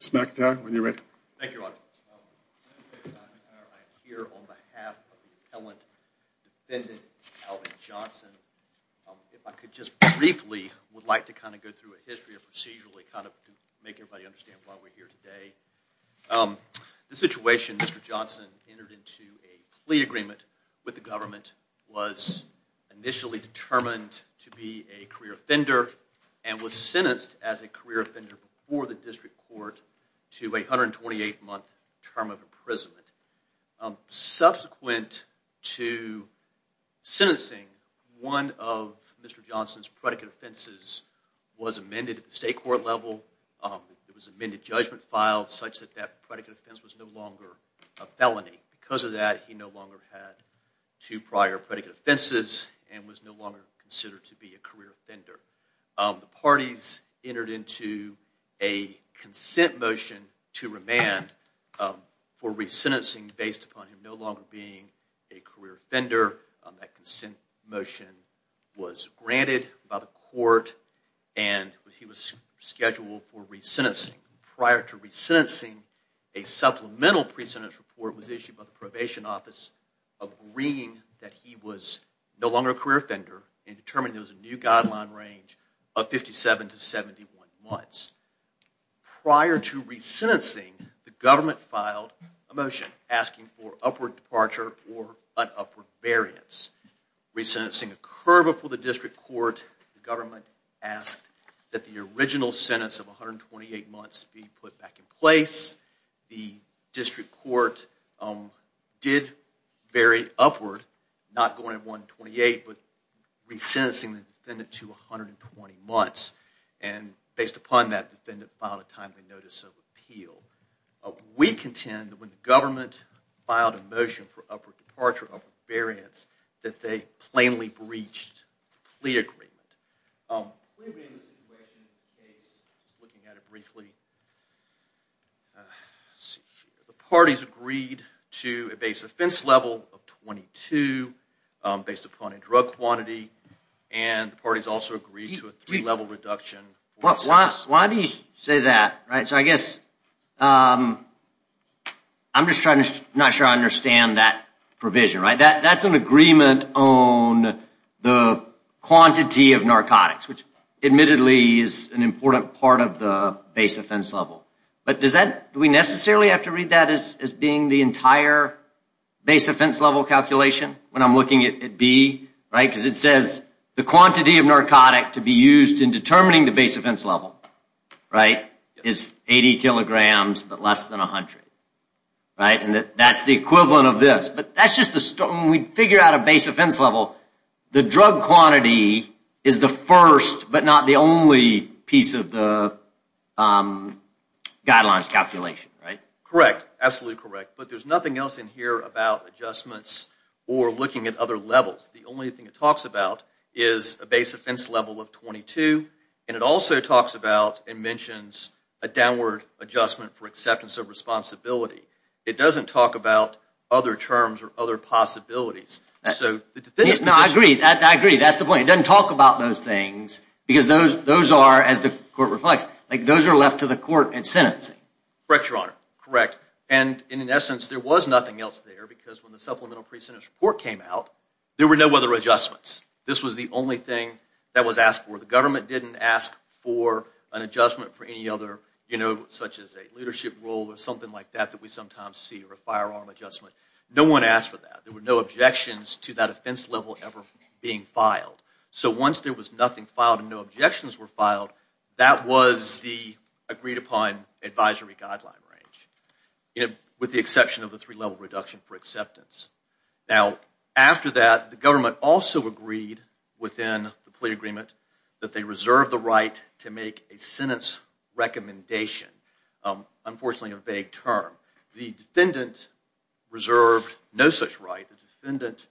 Mr. McIntyre, when you're ready. Thank you, Your Honor. I'm here on behalf of the appellant defendant Alvin Johnson. If I could just briefly would like to kind of go through a history of procedurally kind of make everybody understand why we're here today. The situation, Mr. Johnson entered into a plea agreement with the government, was initially determined to be a career offender and was sentenced as a career offender before the district court to a 128 month term of imprisonment. Subsequent to sentencing, one of Mr. Johnson's predicate offenses was amended at the state court level. It was amended judgment filed such that that predicate offense was no longer a felony. Because of that, he no longer had two prior predicate offenses and was no longer considered to be a career offender. The parties entered into a consent motion to remand for resentencing based upon him no longer being a career offender. That consent motion was granted by the court and he was scheduled for resentencing. Prior to resentencing, a supplemental pre-sentence report was issued by the probation office agreeing that he was no longer a career offender and determined there was a new guideline range of 57 to 71 months. Prior to resentencing, the government filed a motion asking for upward departure or an upward variance. Resentencing occurred before the district court. The government asked that the original sentence of 128 months be put back in place. The district court did vary upward, not going to 128, but resentencing the defendant to 120 months. Based upon that, the defendant filed a timely notice of appeal. We contend that when the government filed a motion for upward departure, upward variance, that they plainly breached the plea agreement. The plea agreement situation is looking at it briefly. The parties agreed to a base offense level of 22 based upon a drug quantity and the parties also agreed to a three level reduction. Why do you say that? I'm just not sure I understand that provision. That's an agreement on the quantity of narcotics, which admittedly is an important part of the base offense level. Do we necessarily have to read that as being the entire base offense level calculation when I'm looking at B? Because it says the quantity of narcotic to be used in determining the base offense level is 80 kilograms but less than 100. That's the equivalent of this. When we figure out a base offense level, the drug quantity is the first but not the only piece of the guidelines calculation. Correct, absolutely correct. But there's nothing else in here about adjustments or looking at other levels. The only thing it talks about is a base offense level of 22 and it also talks about and mentions a downward adjustment for acceptance of responsibility. It doesn't talk about other terms or other possibilities. I agree, that's the point. It doesn't talk about those things because those are, as the court reflects, those are left to the court in the supplemental precincts report came out, there were no other adjustments. This was the only thing that was asked for. The government didn't ask for an adjustment for any other, you know, such as a leadership role or something like that that we sometimes see or a firearm adjustment. No one asked for that. There were no objections to that offense level ever being filed. So once there was nothing filed and no objections were filed, that was the agreed upon advisory guideline range with the exception of the three level reduction for acceptance. Now, after that, the government also agreed within the plea agreement that they reserve the right to make a sentence recommendation. Unfortunately, a vague term. The defendant reserved no such right. The defendant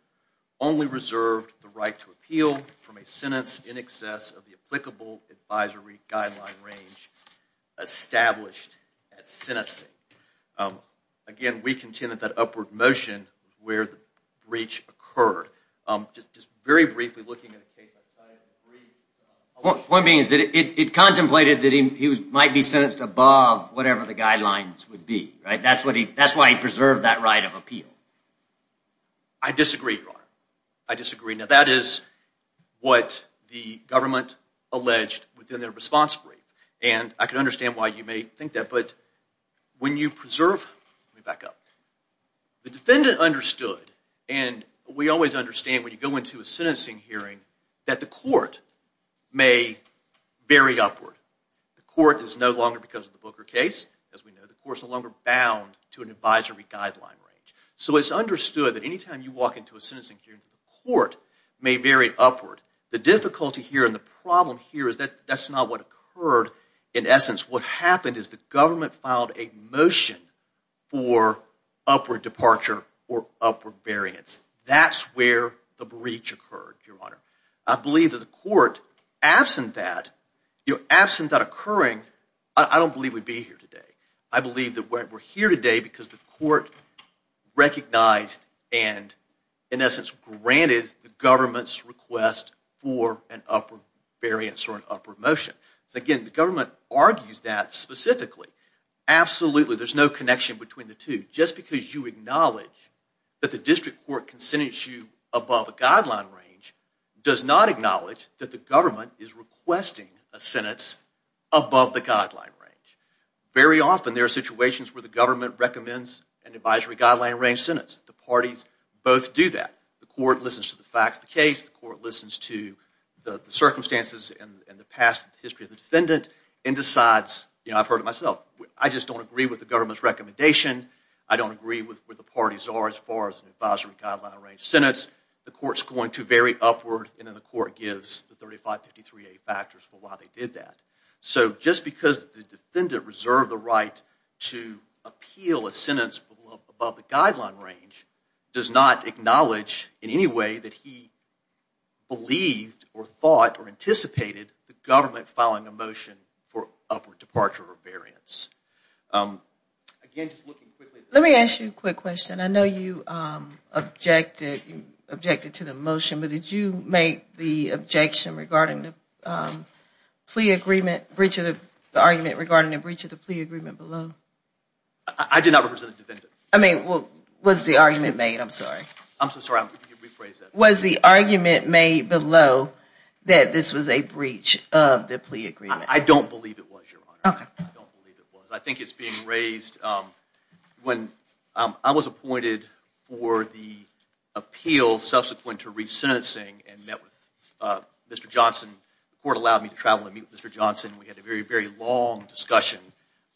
only reserved the right to appeal from a sentence in excess of the applicable advisory guideline range established as sentencing. Again, we contended that upward motion where the breach occurred. Just very briefly looking at a case outside of the three... The point being is that it contemplated that he might be sentenced above whatever the guidelines would be, right? That's why he preserved that right of appeal. I disagree, Your Honor. I disagree. Now that is what the government alleged within their response brief, and I can understand why you may think that, but when you preserve... Let me back up. The defendant understood, and we always understand when you go into a sentencing hearing, that the court may vary upward. The court is no longer, because of the Booker case, as we know, the court is no longer bound to an advisory guideline range. So it's understood that any time you walk into a sentencing hearing, the court may vary upward. The difficulty here and the problem here is that that's not what occurred in essence. What happened is the government filed a motion for upward departure or upward variance. That's where the breach occurred, Your Honor. I believe that the court, I believe that we're here today because the court recognized and in essence granted the government's request for an upward variance or an upward motion. So again, the government argues that specifically. Absolutely, there's no connection between the two. Just because you acknowledge that the district court can sentence you above a guideline range does not acknowledge that the government is requesting a sentence above the guideline range. Very often there are situations where the government recommends an advisory guideline range sentence. The parties both do that. The court listens to the facts of the case. The court listens to the circumstances and the past history of the defendant and decides, you know, I've heard it myself, I just don't agree with the government's recommendation. I don't agree with where the parties are as far as an advisory guideline range. So just because the defendant reserved the right to appeal a sentence above the guideline range does not acknowledge in any way that he believed or thought or anticipated the government filing a motion for upward departure or variance. Let me ask you a quick question. I know you objected to the motion, but did you make the objection regarding the plea agreement, the argument regarding the breach of the plea agreement below? I did not represent the defendant. I mean, was the argument made? I'm sorry. Was the argument made below that this was a breach of the plea agreement? I don't believe it was, Your Honor. I don't believe it was. I think it's being raised when I was appointed for the appeal subsequent to resentencing and met with Mr. Johnson. The court allowed me to travel and meet with Mr. Johnson. We had a very, very long discussion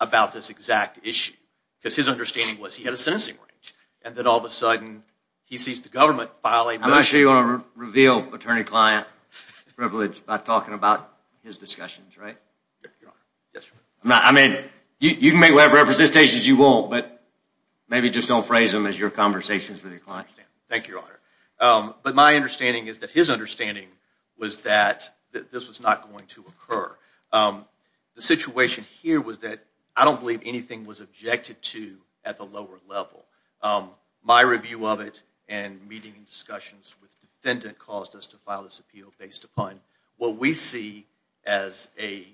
about this exact issue because his understanding was he had a sentencing range and that all of a sudden he sees the government filing a motion. I'm not sure you want to reveal attorney-client privilege by talking about his discussions, right? Yes, Your Honor. I mean, you can make whatever representations you want, but maybe just don't phrase them as your conversations with your client. Thank you, Your Honor. But my understanding is that his understanding was that this was not going to occur. The situation here was that I don't believe anything was objected to at the lower level. My review of it and meeting and discussions with the defendant caused us to file this appeal based upon what we see as a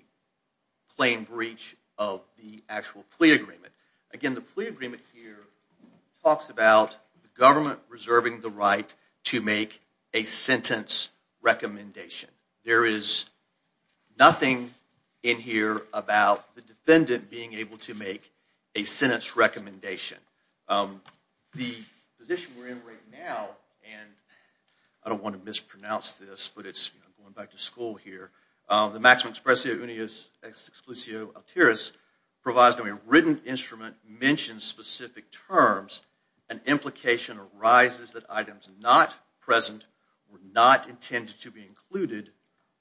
plain breach of the actual plea agreement. Again, the plea agreement here talks about the government reserving the right to make a sentence recommendation. There is nothing in here about the defendant being able to make a sentence recommendation. The position we're in right now and I don't want to mispronounce this, but it's going back to school here. The maxim expressio unius exclusio alteris provides that when a written instrument mentions specific terms, an implication arises that items not present were not intended to be included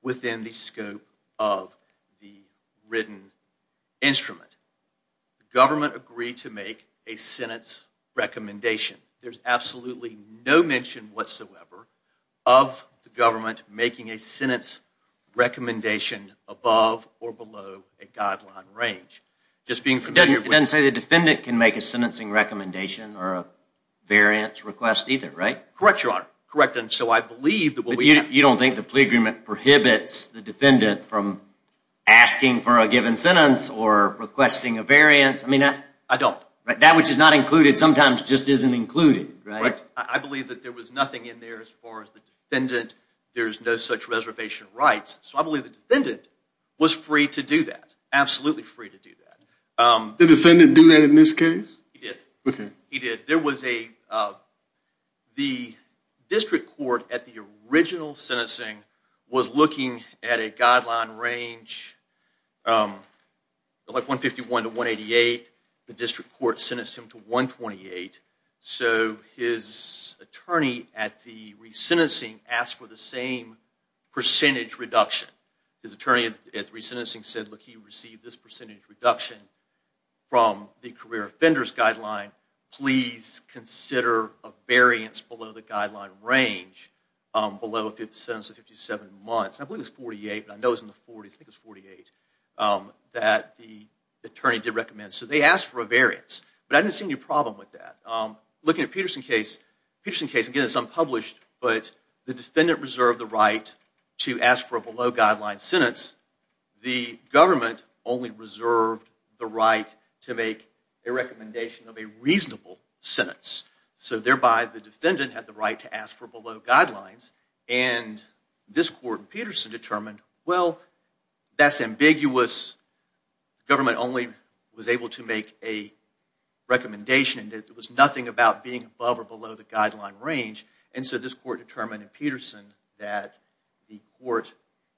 within the scope of the written instrument. The government agreed to make a sentence recommendation. There's absolutely no mention whatsoever of the government making a sentence recommendation above or below a guideline range. It doesn't say the defendant can make a sentencing recommendation or a variance request either, right? Correct, Your Honor. You don't think the plea agreement prohibits the defendant from asking for a given sentence or requesting a variance? I mean, that which is not included sometimes just isn't included, right? I believe that there was nothing in there as far as the defendant, there's no such reservation rights. So I believe the defendant was free to do that. Absolutely free to do that. Did the defendant do that in this case? He did. There was a, the district court at the original sentencing was looking at a guideline range like 151 to 188. The district court sentenced him to 128. So his attorney at the resentencing asked for the same percentage reduction. His attorney at the resentencing said, look, he received this percentage reduction from the career offenders guideline. Please consider a variance below the guideline range below a sentence of 57 months. I believe it was 48, but I know it was in the 40s. I think it was 48 that the attorney did recommend. So they asked for a variance, but I didn't see any problem with that. Looking at Peterson case, Peterson case, again, it's unpublished, but the defendant reserved the right to ask for a below guideline sentence. The government only reserved the right to make a recommendation of a reasonable sentence. So thereby, the defendant had the right to ask for below guidelines. And this court in Peterson determined, well, that's ambiguous. Government only was able to make a recommendation that was nothing about being above or below the guideline range. And so this court determined in Peterson that the court,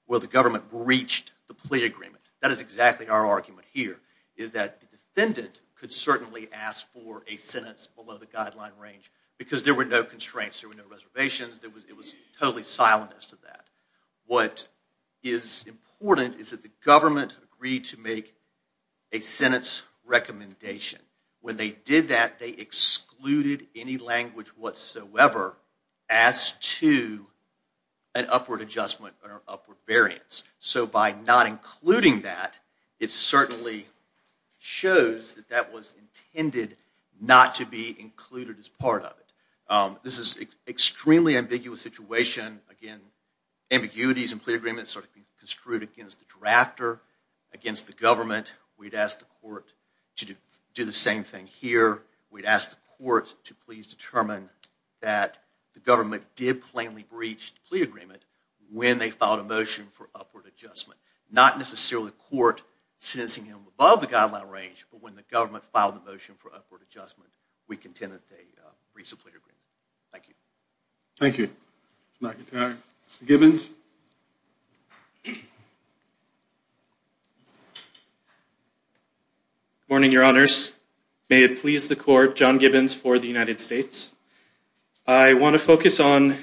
well, the government breached the plea agreement. That is exactly our argument here, is that the defendant could certainly ask for a sentence below the guideline range because there were no constraints. There were no reservations. It was totally silent as to that. What is important is that the government agreed to make a sentence recommendation. When they did that, they excluded any language whatsoever as to an upward adjustment or an upward variance. So by not including that, it certainly shows that that was intended not to be included as part of it. This is an extremely ambiguous situation. Again, ambiguities in plea agreements are construed against the drafter, against the government. We'd ask the court to do the same thing here. We'd ask the court to please determine that the government did plainly breach the plea agreement when they filed a motion for upward adjustment. Not necessarily the court sentencing him above the guideline range, but when the government filed the motion for upward adjustment, we contend that they breached the plea agreement. Thank you. Thank you. Mr. Gibbons. Good morning, Your Honors. May it please the court, John Gibbons for the United States. I want to focus on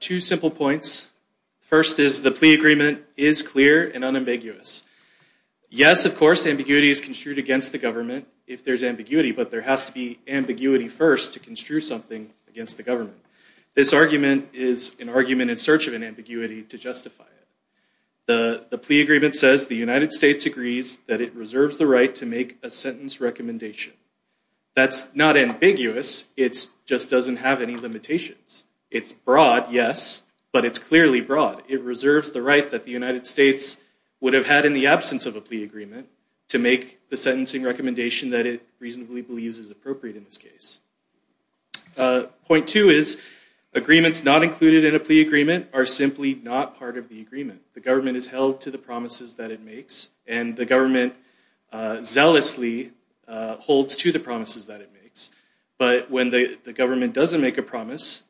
two simple points. First is the plea agreement is clear and unambiguous. Yes, of course, ambiguity is construed against the government if there's ambiguity, but there has to be ambiguity first to construe something against the government. This argument is an argument in search of an ambiguity to justify it. The plea agreement says the United States agrees that it reserves the right to make a sentence recommendation. That's not ambiguous. It just doesn't have any limitations. It's broad, yes, but it's clearly broad. It reserves the right that the United States would have had in the absence of a plea agreement to make the sentencing recommendation that it reasonably believes is appropriate in this case. Point two is agreements not included in a plea agreement are simply not part of the agreement. The government is held to the promises that it makes, and the government zealously holds to the promises that it makes, but when the government doesn't make a promise,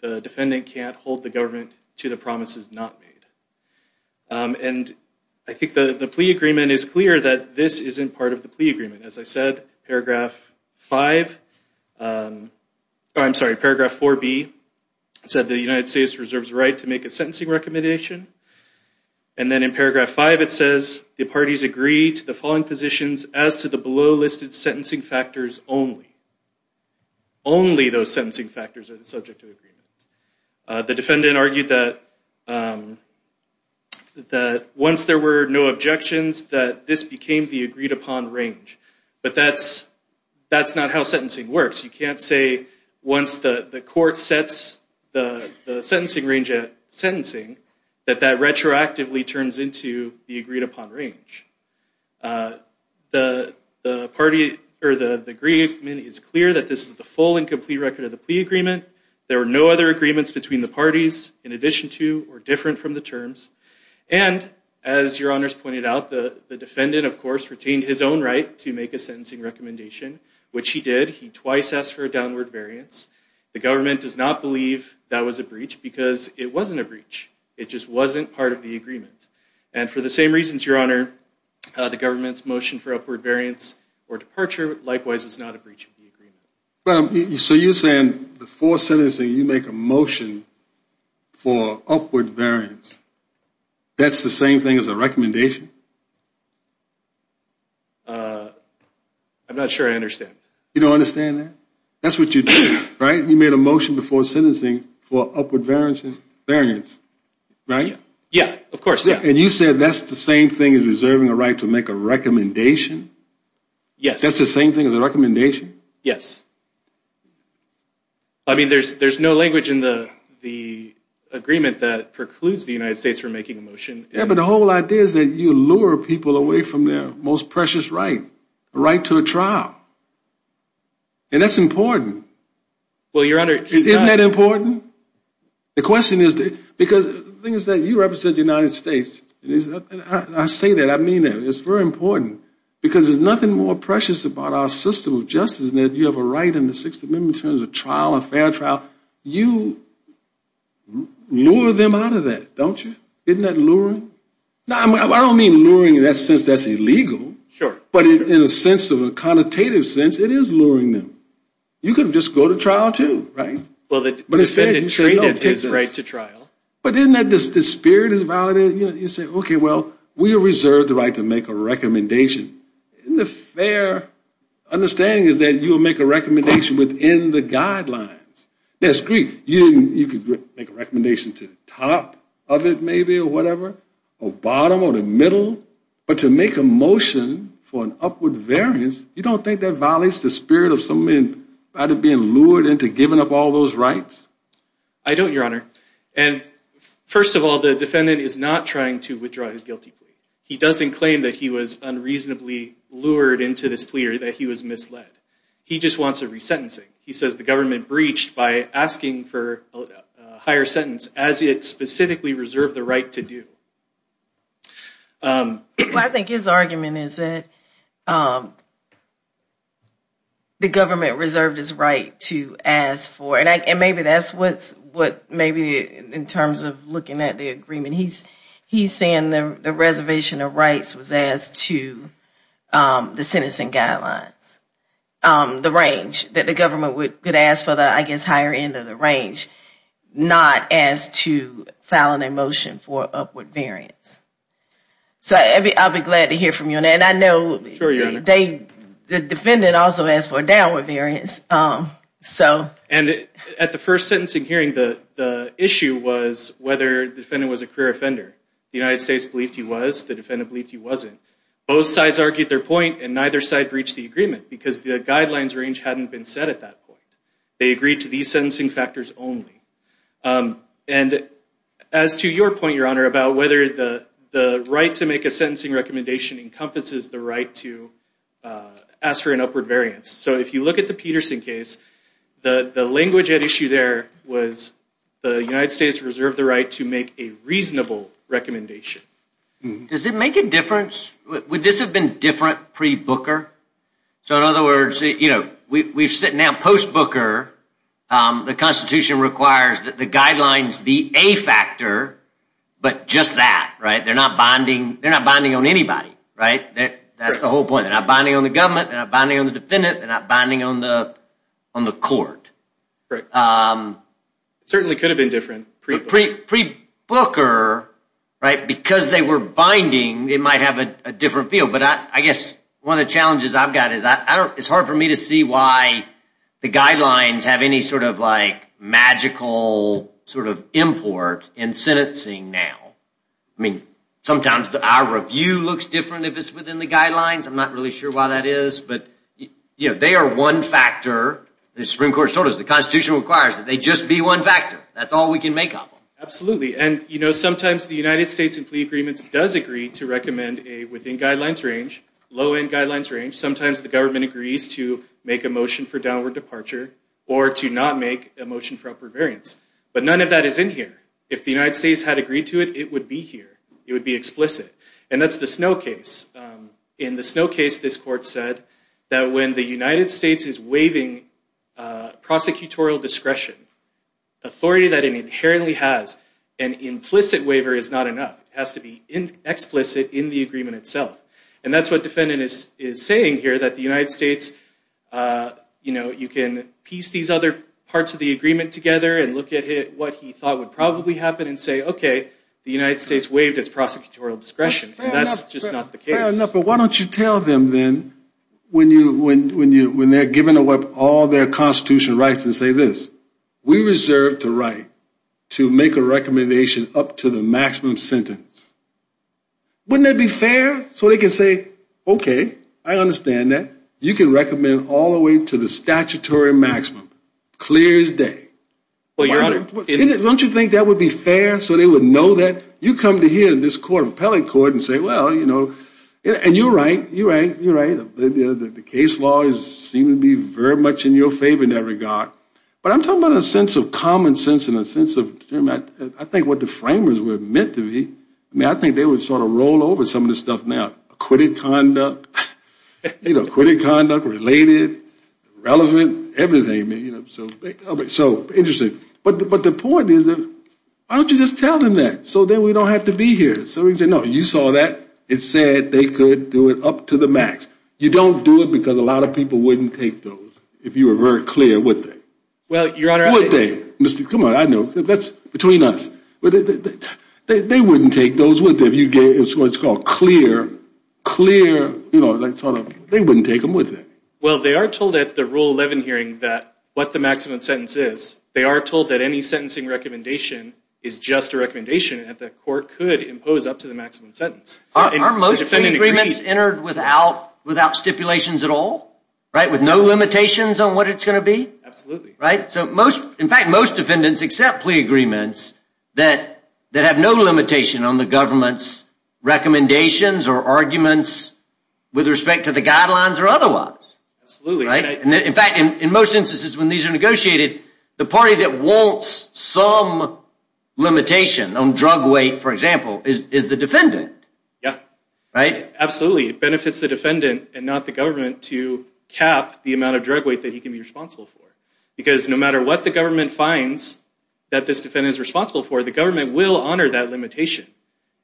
the defendant can't hold the government to the promises not made. And I think the plea agreement is clear that this isn't part of the plea agreement. As I said, paragraph five, I'm sorry, paragraph 4B said the United States reserves the right to make a sentencing recommendation, and then in paragraph five it says the parties agree to the following positions as to the below listed sentencing factors only. Only those sentencing factors are subject to agreement. The defendant argued that once there were no objections that this became the agreed upon range, but that's not how sentencing works. You can't say once the court sets the sentencing range at sentencing that that retroactively turns into the agreed upon range. The party or the agreement is clear that this is the full and complete record of the plea agreement. There are no other agreements between the parties in addition to or different from the terms, and as your honors pointed out, the defendant of course retained his own right to make a sentencing recommendation, which he did. He twice asked for a downward variance. The government does not believe that was a breach because it wasn't a breach. It just wasn't part of the agreement. And for the same reasons, your honor, the government's motion for upward variance or departure likewise was not a breach of the agreement. So you're saying before sentencing you make a motion for upward variance. That's the same thing as a recommendation? I'm not sure I understand. You don't understand that? That's what you did, right? You made a motion before sentencing for upward variance, right? Yeah, of course. And you said that's the same thing as reserving a right to make a recommendation? Yes. That's the same thing as a recommendation? Yes. I mean, there's no language in the agreement that precludes the United States from making a motion. Yeah, but the whole idea is that you lure people away from their most precious right, a right to a trial. And that's important. Isn't that important? The question is, because the thing is that you represent the United States. I say that, I mean that. It's very important. Because there's nothing more precious about our system of justice than that you have a right in the Sixth Amendment in terms of trial, a fair trial. You lure them out of that, don't you? Isn't that luring? I don't mean luring in that sense that's illegal. Sure. But in a sense of a connotative sense, it is luring them. You could just go to trial too, right? But isn't that the spirit is valid? You say, okay, well, we reserve the right to make a recommendation. Isn't the fair understanding is that you'll make a recommendation within the guidelines? That's great. You could make a recommendation to the top of it maybe or whatever, or bottom or the middle. But to make a motion for an upward variance, you don't think that violates the spirit of somebody being lured into giving up all those rights? First of all, the defendant is not trying to withdraw his guilty plea. He doesn't claim that he was unreasonably lured into this plea or that he was misled. He just wants a resentencing. He says the government breached by asking for a higher sentence as it specifically reserved the right to do. Well, I think his argument is that the government reserved his right to ask for it. And maybe that's what maybe in terms of looking at the agreement, he's saying the reservation of rights was asked to the sentencing guidelines, the range that the government could ask for the, I guess, higher end of the range, not as to filing a motion for upward variance. So I'll be glad to hear from you on that. And I know the defendant also asked for a downward variance. And at the first sentencing hearing, the issue was whether the defendant was a career offender. The United States believed he was. The defendant believed he wasn't. Both sides argued their point and neither side breached the agreement because the guidelines range hadn't been set at that point. They agreed to these sentencing factors only. As to your point, Your Honor, about whether the right to make a sentencing recommendation encompasses the right to ask for an upward variance. So if you look at the Peterson case, the language at issue there was the United States reserved the right to make a reasonable recommendation. Does it make a difference? Would this have been a different pre-Booker? So in other words, we're sitting now post-Booker. The Constitution requires that the guidelines be a factor, but just that. They're not binding on anybody. That's the whole point. They're not binding on the government. They're not binding on the defendant. They're not binding on the court. It certainly could have been different. Pre-Booker, because they were binding, it might have a different feel. But I guess one of the challenges I've got is that it's hard for me to see why the guidelines have any sort of like magical sort of import in sentencing now. I mean, sometimes our review looks different if it's within the guidelines. I'm not really sure why that is. But they are one factor. As the Supreme Court has told us, the Constitution requires that they just be one factor. That's all we can make up. Absolutely. And sometimes the United States in plea agreements does agree to recommend a within guidelines range, low-end guidelines range. Sometimes the government agrees to make a motion for downward departure or to not make a motion for upper variance. But none of that is in here. If the United States had agreed to it, it would be here. It would be explicit. And that's the Snow case. In the Snow case, this court said that when the United States is waiving prosecutorial discretion, authority that it inherently has, an implicit waiver is not enough. It has to be explicit in the agreement itself. And that's what defendant is saying here, that the United States, you can piece these other parts of the agreement together and look at what he thought would probably happen and say, okay, the United States waived its prosecutorial discretion. And that's just not the case. Fair enough. But why don't you tell them then, when they're given away all their Constitution rights, and say this, we reserve the right to make a recommendation up to the maximum sentence. Wouldn't that be fair? So they can say, okay, I understand that. You can recommend all the way to the statutory maximum. Clear as day. Don't you think that would be fair so they would know that? You come to hear this court, appellate court, and say, well, you know, and you're right, you're right, you're right. The case law seems to be very much in your favor in that regard. But I'm talking about a sense of common sense and a sense of, Jim, I think what the framers would admit to me, I mean, I think they would sort of roll over some of this stuff now. Acquitted conduct, related, relevant, everything. So interesting. But the point is, why don't you just tell them that? So then we don't have to be here. So we can say, no, you saw that. It said they could do it up to the max. You don't do it because a lot of people wouldn't take those if you were very clear, would they? Well, Your Honor, I agree. Would they? Come on, I know. That's between us. They wouldn't take those with them. It's what's called clear. They wouldn't take them with them. Well, they are told at the Rule 11 hearing that what the maximum sentence is, they are told that any sentencing recommendation is just a recommendation that the court could impose up to the maximum sentence. Are most plea agreements entered without stipulations at all? With no limitations on what it's going to be? Absolutely. In fact, most defendants accept plea agreements that have no limitation on the government's recommendations or arguments with respect to the guidelines or otherwise. In fact, in most instances when these are negotiated, the party that wants some limitation on drug weight, for example, is the defendant. Absolutely. It benefits the defendant and not the government to cap the amount of drug weight that he can be responsible for. Because no matter what the government finds that this defendant is responsible for, the government will honor that limitation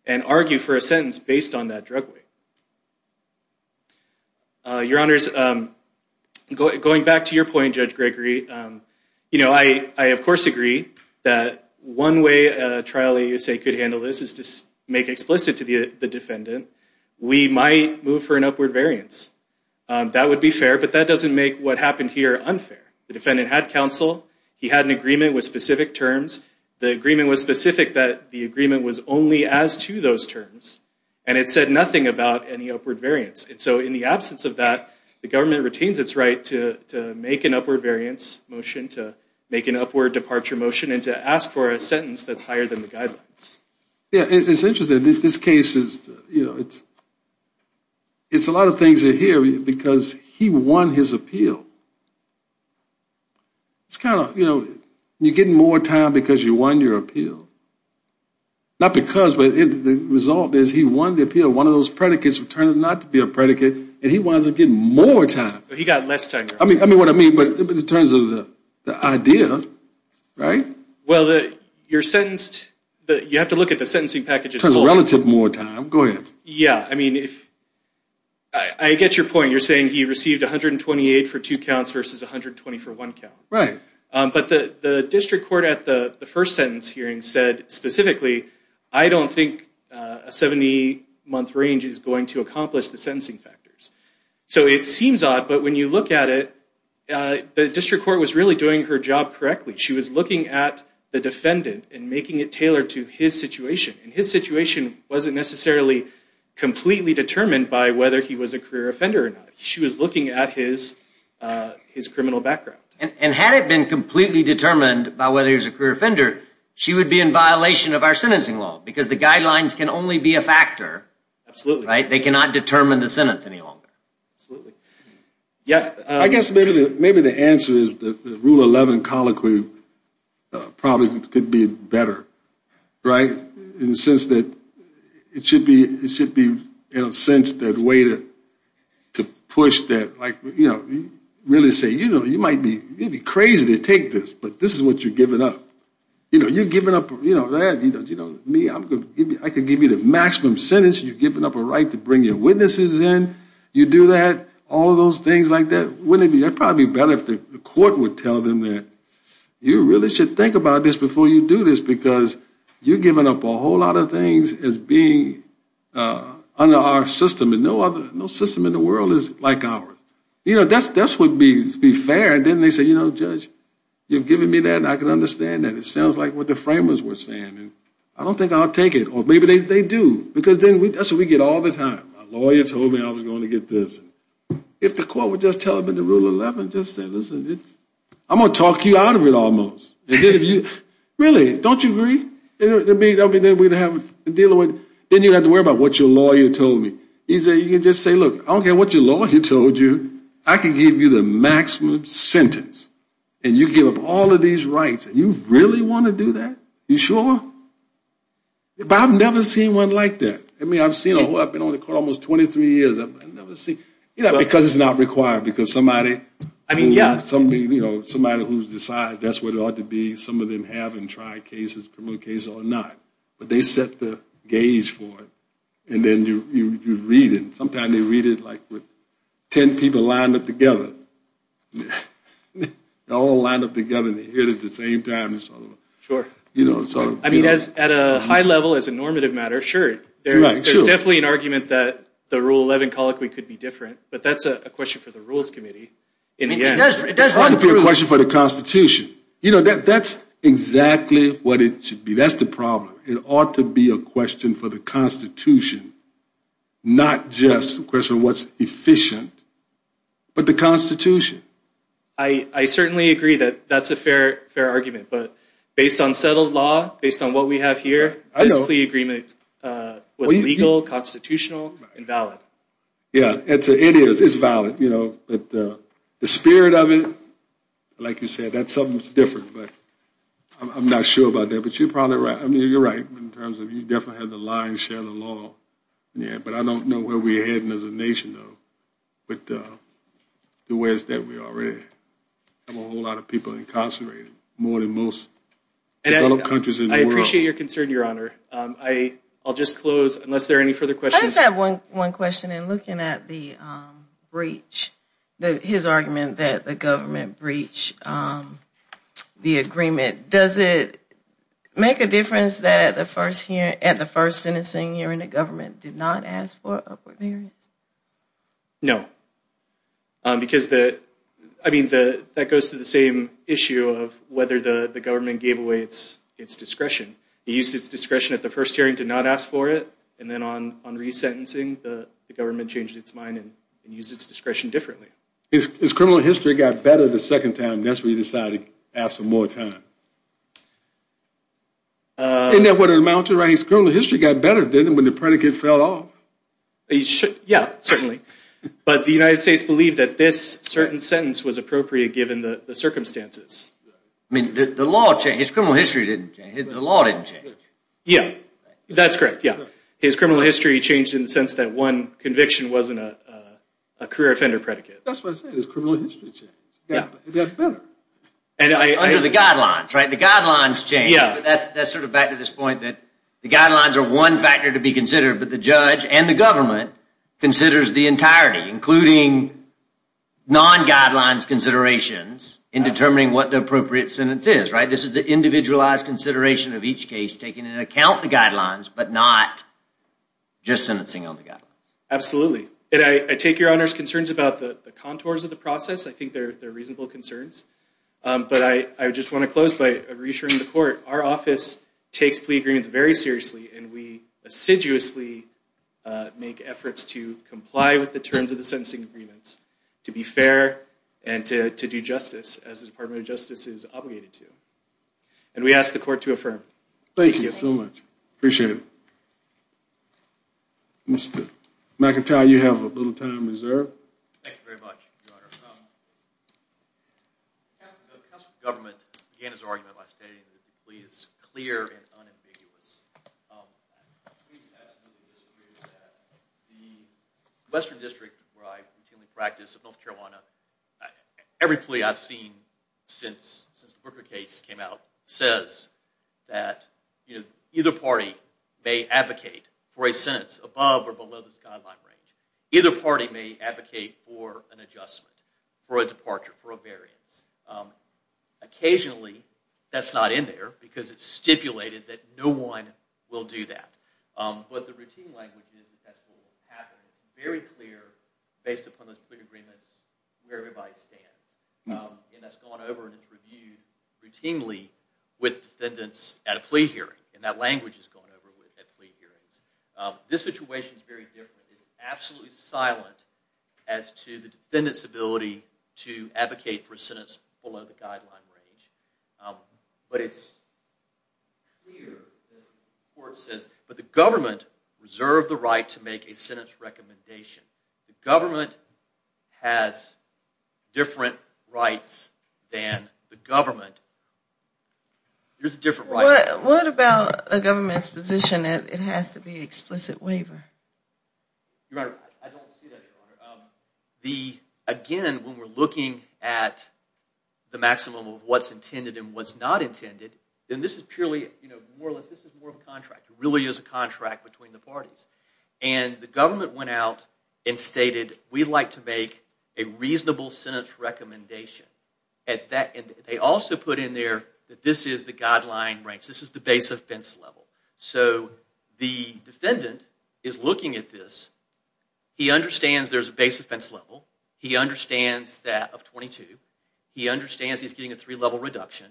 and argue for a sentence based on that drug weight. Your Honors, going back to your point, Judge Gregory, you know, I of course agree that one way a trial in the U.S.A. could handle this is to make explicit to the defendant, we might move for an upward variance. That would be fair, but that doesn't make what happened here unfair. The defendant had counsel. He had an agreement with specific terms. The agreement was specific that the agreement was only as to those terms, and it said nothing about any upward variance. So in the absence of that, the government retains its right to make an upward variance motion, to make an upward departure motion, and to ask for a sentence that's higher than the guidelines. Yeah. It's interesting. This case is, you know, it's a lot of things here because he won his appeal. It's kind of, you know, you're getting more time because you won your appeal. Not because, but the result is he won the appeal. One of those predicates turned out not to be a predicate, and he wound up getting more time. He got less time. I mean, what I mean, but in terms of the idea, right? Well, you're sentenced, you have to look at the sentencing package. In terms of relative more time. Go ahead. Yeah, I mean, I get your point. You're saying he received 128 for two counts versus 120 for one count. Right. But the district court at the first sentence hearing said specifically, I don't think a 70-month range is going to accomplish the sentencing factors. So it seems odd, but when you look at it, the district court was really doing her job correctly. She was looking at the defendant and making it tailored to his situation. And his situation wasn't necessarily completely determined by whether he was a career offender or not. She was looking at his criminal background. And had it been completely determined by whether he was a career offender, she would be in violation of our sentencing law because the guidelines can only be a factor. Absolutely. They cannot determine the sentence any longer. I guess maybe the answer is the Rule 11 colloquy probably could be better. Right? In the sense that it should be in a sense the way to push that. Really say, you know, you might be crazy to take this, but this is what you're giving up. You know, you're giving up that. I could give you the maximum sentence. You're giving up a right to bring your witnesses in. You do that, all of those things like that. Wouldn't it be better if the court would tell them that you really should think about this before you do this because you're giving up a whole lot of things as being under our system. No system in the world is like ours. You know, that would be fair. And then they say, you know, Judge, you've given me that and I can understand that. It sounds like what the framers were saying. I don't think I'll take it. Or maybe they do because then that's what we get all the time. My lawyer told me I was going to get this. If the court would just tell them in the Rule 11, just say, listen, I'm going to talk you out of it almost. Really, don't you agree? Then you have to worry about what your lawyer told me. You can just say, look, I don't care what your lawyer told you, I can give you the maximum sentence. And you give up all of these rights. You really want to do that? You sure? But I've never seen one like that. I've been on the court almost 23 years. Because it's not required. Somebody who decides that's what it ought to be, some of them have tried cases or not. But they set the gauge for it. And then you read it. It's like 10 people lined up together. They all lined up together and they hit it at the same time. At a high level, as a normative matter, sure. There's definitely an argument that the Rule 11 colloquy could be different. But that's a question for the Rules Committee. It doesn't have to be a question for the Constitution. That's exactly what it should be. That's the problem. It ought to be a question for the Constitution, not just a question of what's efficient. But the Constitution. I certainly agree that that's a fair argument. But based on settled law, based on what we have here, the agreement was legal, constitutional, and valid. Yeah, it is. It's valid. The spirit of it, like you said, that's something that's different. I'm not sure about that, but you're probably right. I don't know where we're heading as a nation, though. But the way it's done, we already have a whole lot of people incarcerated. More than most developed countries in the world. I appreciate your concern, Your Honor. I'll just close, unless there are any further questions. I just have one question. In looking at his argument that the government breached the agreement, does it make a difference that at the first sentencing hearing, the government did not ask for upward clearance? No. I mean, that goes to the same issue of whether the government gave away its discretion. It used its discretion at the first hearing to not ask for it, and then on resentencing, the government changed its mind and used its discretion differently. His criminal history got better the second time, and that's when he decided to ask for more time. And that would amount to, right, his criminal history got better, didn't it, when the predicate fell off? Yeah, certainly. But the United States believed that this certain sentence was appropriate given the circumstances. I mean, the law changed. His criminal history didn't change. The law didn't change. Yeah, that's correct. His criminal history changed in the sense that one conviction wasn't a career offender predicate. That's what I'm saying. His criminal history changed. Under the guidelines, right? The guidelines changed. But that's sort of back to this point that the guidelines are one factor to be considered, but the judge and the government considers the entirety, including non-guidelines considerations in determining what the appropriate sentence is, right? This is the individualized consideration of each case, taking into account the guidelines, but not just sentencing on the guidelines. Absolutely. And I take your Honor's concerns about the contours of the process. I think they're reasonable concerns. But I just want to close by reassuring the Court. Our office takes plea agreements very seriously, and we assiduously make efforts to comply with the terms of the sentencing agreements to be fair and to do justice as the Department of Justice is obligated to. And we ask the Court to affirm. Thank you so much. Appreciate it. Mr. McIntyre, you have a little time reserved. Thank you very much, Your Honor. The Counsel for Government began his argument by stating that the plea is clear and unambiguous. The Western District, where I routinely practice in North Carolina, every plea I've seen since the Booker case came out says that either party may advocate for a sentence above or below this guideline range. Either party may advocate for an adjustment, for a departure, for a variance. Occasionally, that's not in there because it's stipulated that no one will do that. But the routine language is that's what will happen. It's very clear, based upon those plea agreements, where everybody stands. And that's gone over and it's reviewed routinely with defendants at a plea hearing. And that language has gone over at plea hearings. This situation is very different. It's absolutely silent as to the defendant's ability to advocate for a sentence below the guideline range. But it's clear that the court says, but the government reserved the right to make a sentence recommendation. The government has different rights than the government. There's a different right. What about a government's position that it has to be an explicit waiver? I don't see that, Your Honor. Again, when we're looking at the maximum of what's intended and what's not intended, then this is purely more of a contract. It really is a contract between the parties. And the government went out and stated, we'd like to make a reasonable sentence recommendation. They also put in there that this is the guideline range. So the defendant is looking at this. He understands there's a base offense level. He understands that of 22. He understands he's getting a three-level reduction.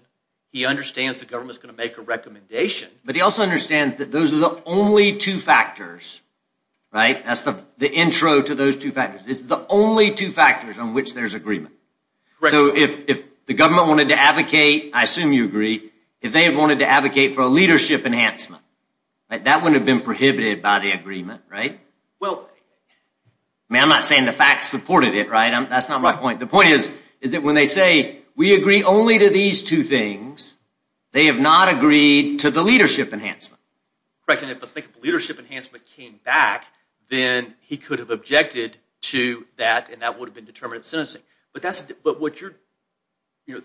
He understands the government's going to make a recommendation. But he also understands that those are the only two factors, right? That's the intro to those two factors. It's the only two factors on which there's agreement. So if the government wanted to advocate, I assume you agree, if they wanted to advocate for a leadership enhancement, that wouldn't have been prohibited by the agreement, right? I'm not saying the facts supported it, right? That's not my point. The point is that when they say, we agree only to these two things, they have not agreed to the leadership enhancement. Correct. And if the leadership enhancement came back, then he could have objected to that and that would have been determinative sentencing. But what you're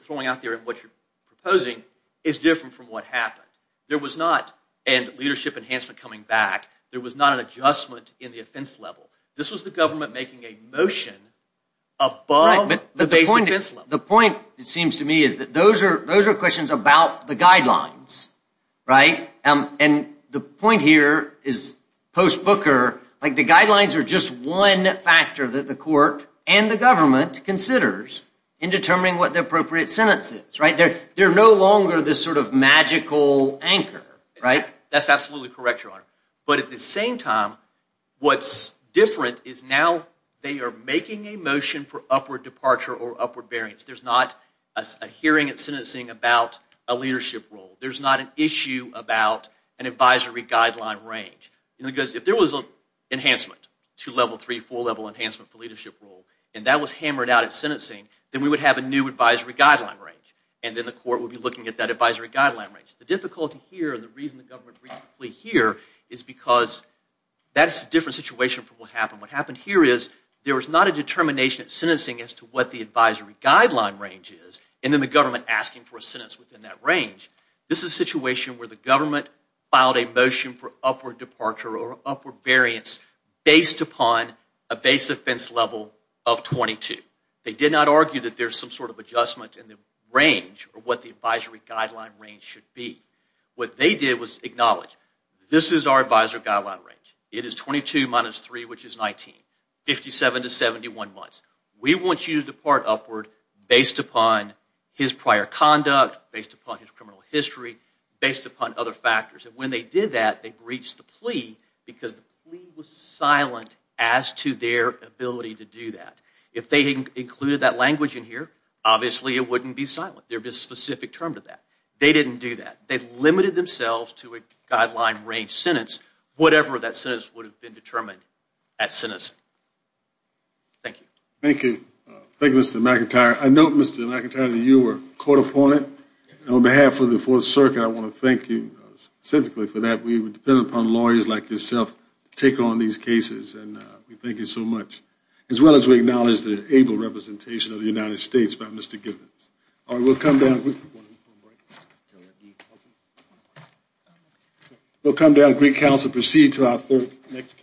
throwing out there and what you're proposing is different from what happened. There was not a leadership enhancement coming back. There was not an adjustment in the offense level. This was the government making a motion above the base offense level. The point, it seems to me, is that those are questions about the guidelines, right? And the point here is post-Booker, the guidelines are just one factor that the court and the government considers in determining what the appropriate sentence is, right? They're no longer this sort of magical anchor, right? That's absolutely correct, Your Honor. But at the same time, what's different is now they are making a motion for upward departure or upward bearings. There's not a hearing at sentencing about a leadership role. There's not an issue about an advisory guideline range. Because if there was an enhancement to level three, four level enhancement for leadership role, and that was hammered out at sentencing, then we would have a new advisory guideline range. And then the court would be looking at that advisory guideline range. The difficulty here and the reason the government briefly here is because that's a different situation from what happened. What happened here is there was not a determination at sentencing as to what the advisory guideline range is, and then the government asking for a sentence within that range. This is a situation where the government filed a motion for upward departure or upward bearings based upon a base offense level of 22. They did not argue that there's some sort of adjustment in the range or what the advisory guideline range should be. What they did was acknowledge, this is our advisory guideline range. It is 22 minus 3, which is 19. 57 to 71 months. We want you to depart upward based upon his prior conduct, based upon his criminal history, based upon other factors. And when they did that, they breached the plea because the plea was silent as to their ability to do that. If they included that language in here, obviously it wouldn't be silent. There'd be a specific term to that. They didn't do that. They limited themselves to a guideline range sentence, whatever that sentence would have been determined at sentencing. Thank you. Thank you. Thank you, Mr. McIntyre. I note, Mr. McIntyre, that you were a court opponent. On behalf of the Fourth Circuit, I want to thank you specifically for that. We depend upon lawyers like yourself to take on these cases, and we thank you so much. As well as we acknowledge the able representation of the United States by Mr. Gibbons. All right, we'll come down. We'll come down to Greek Council and proceed to our next case.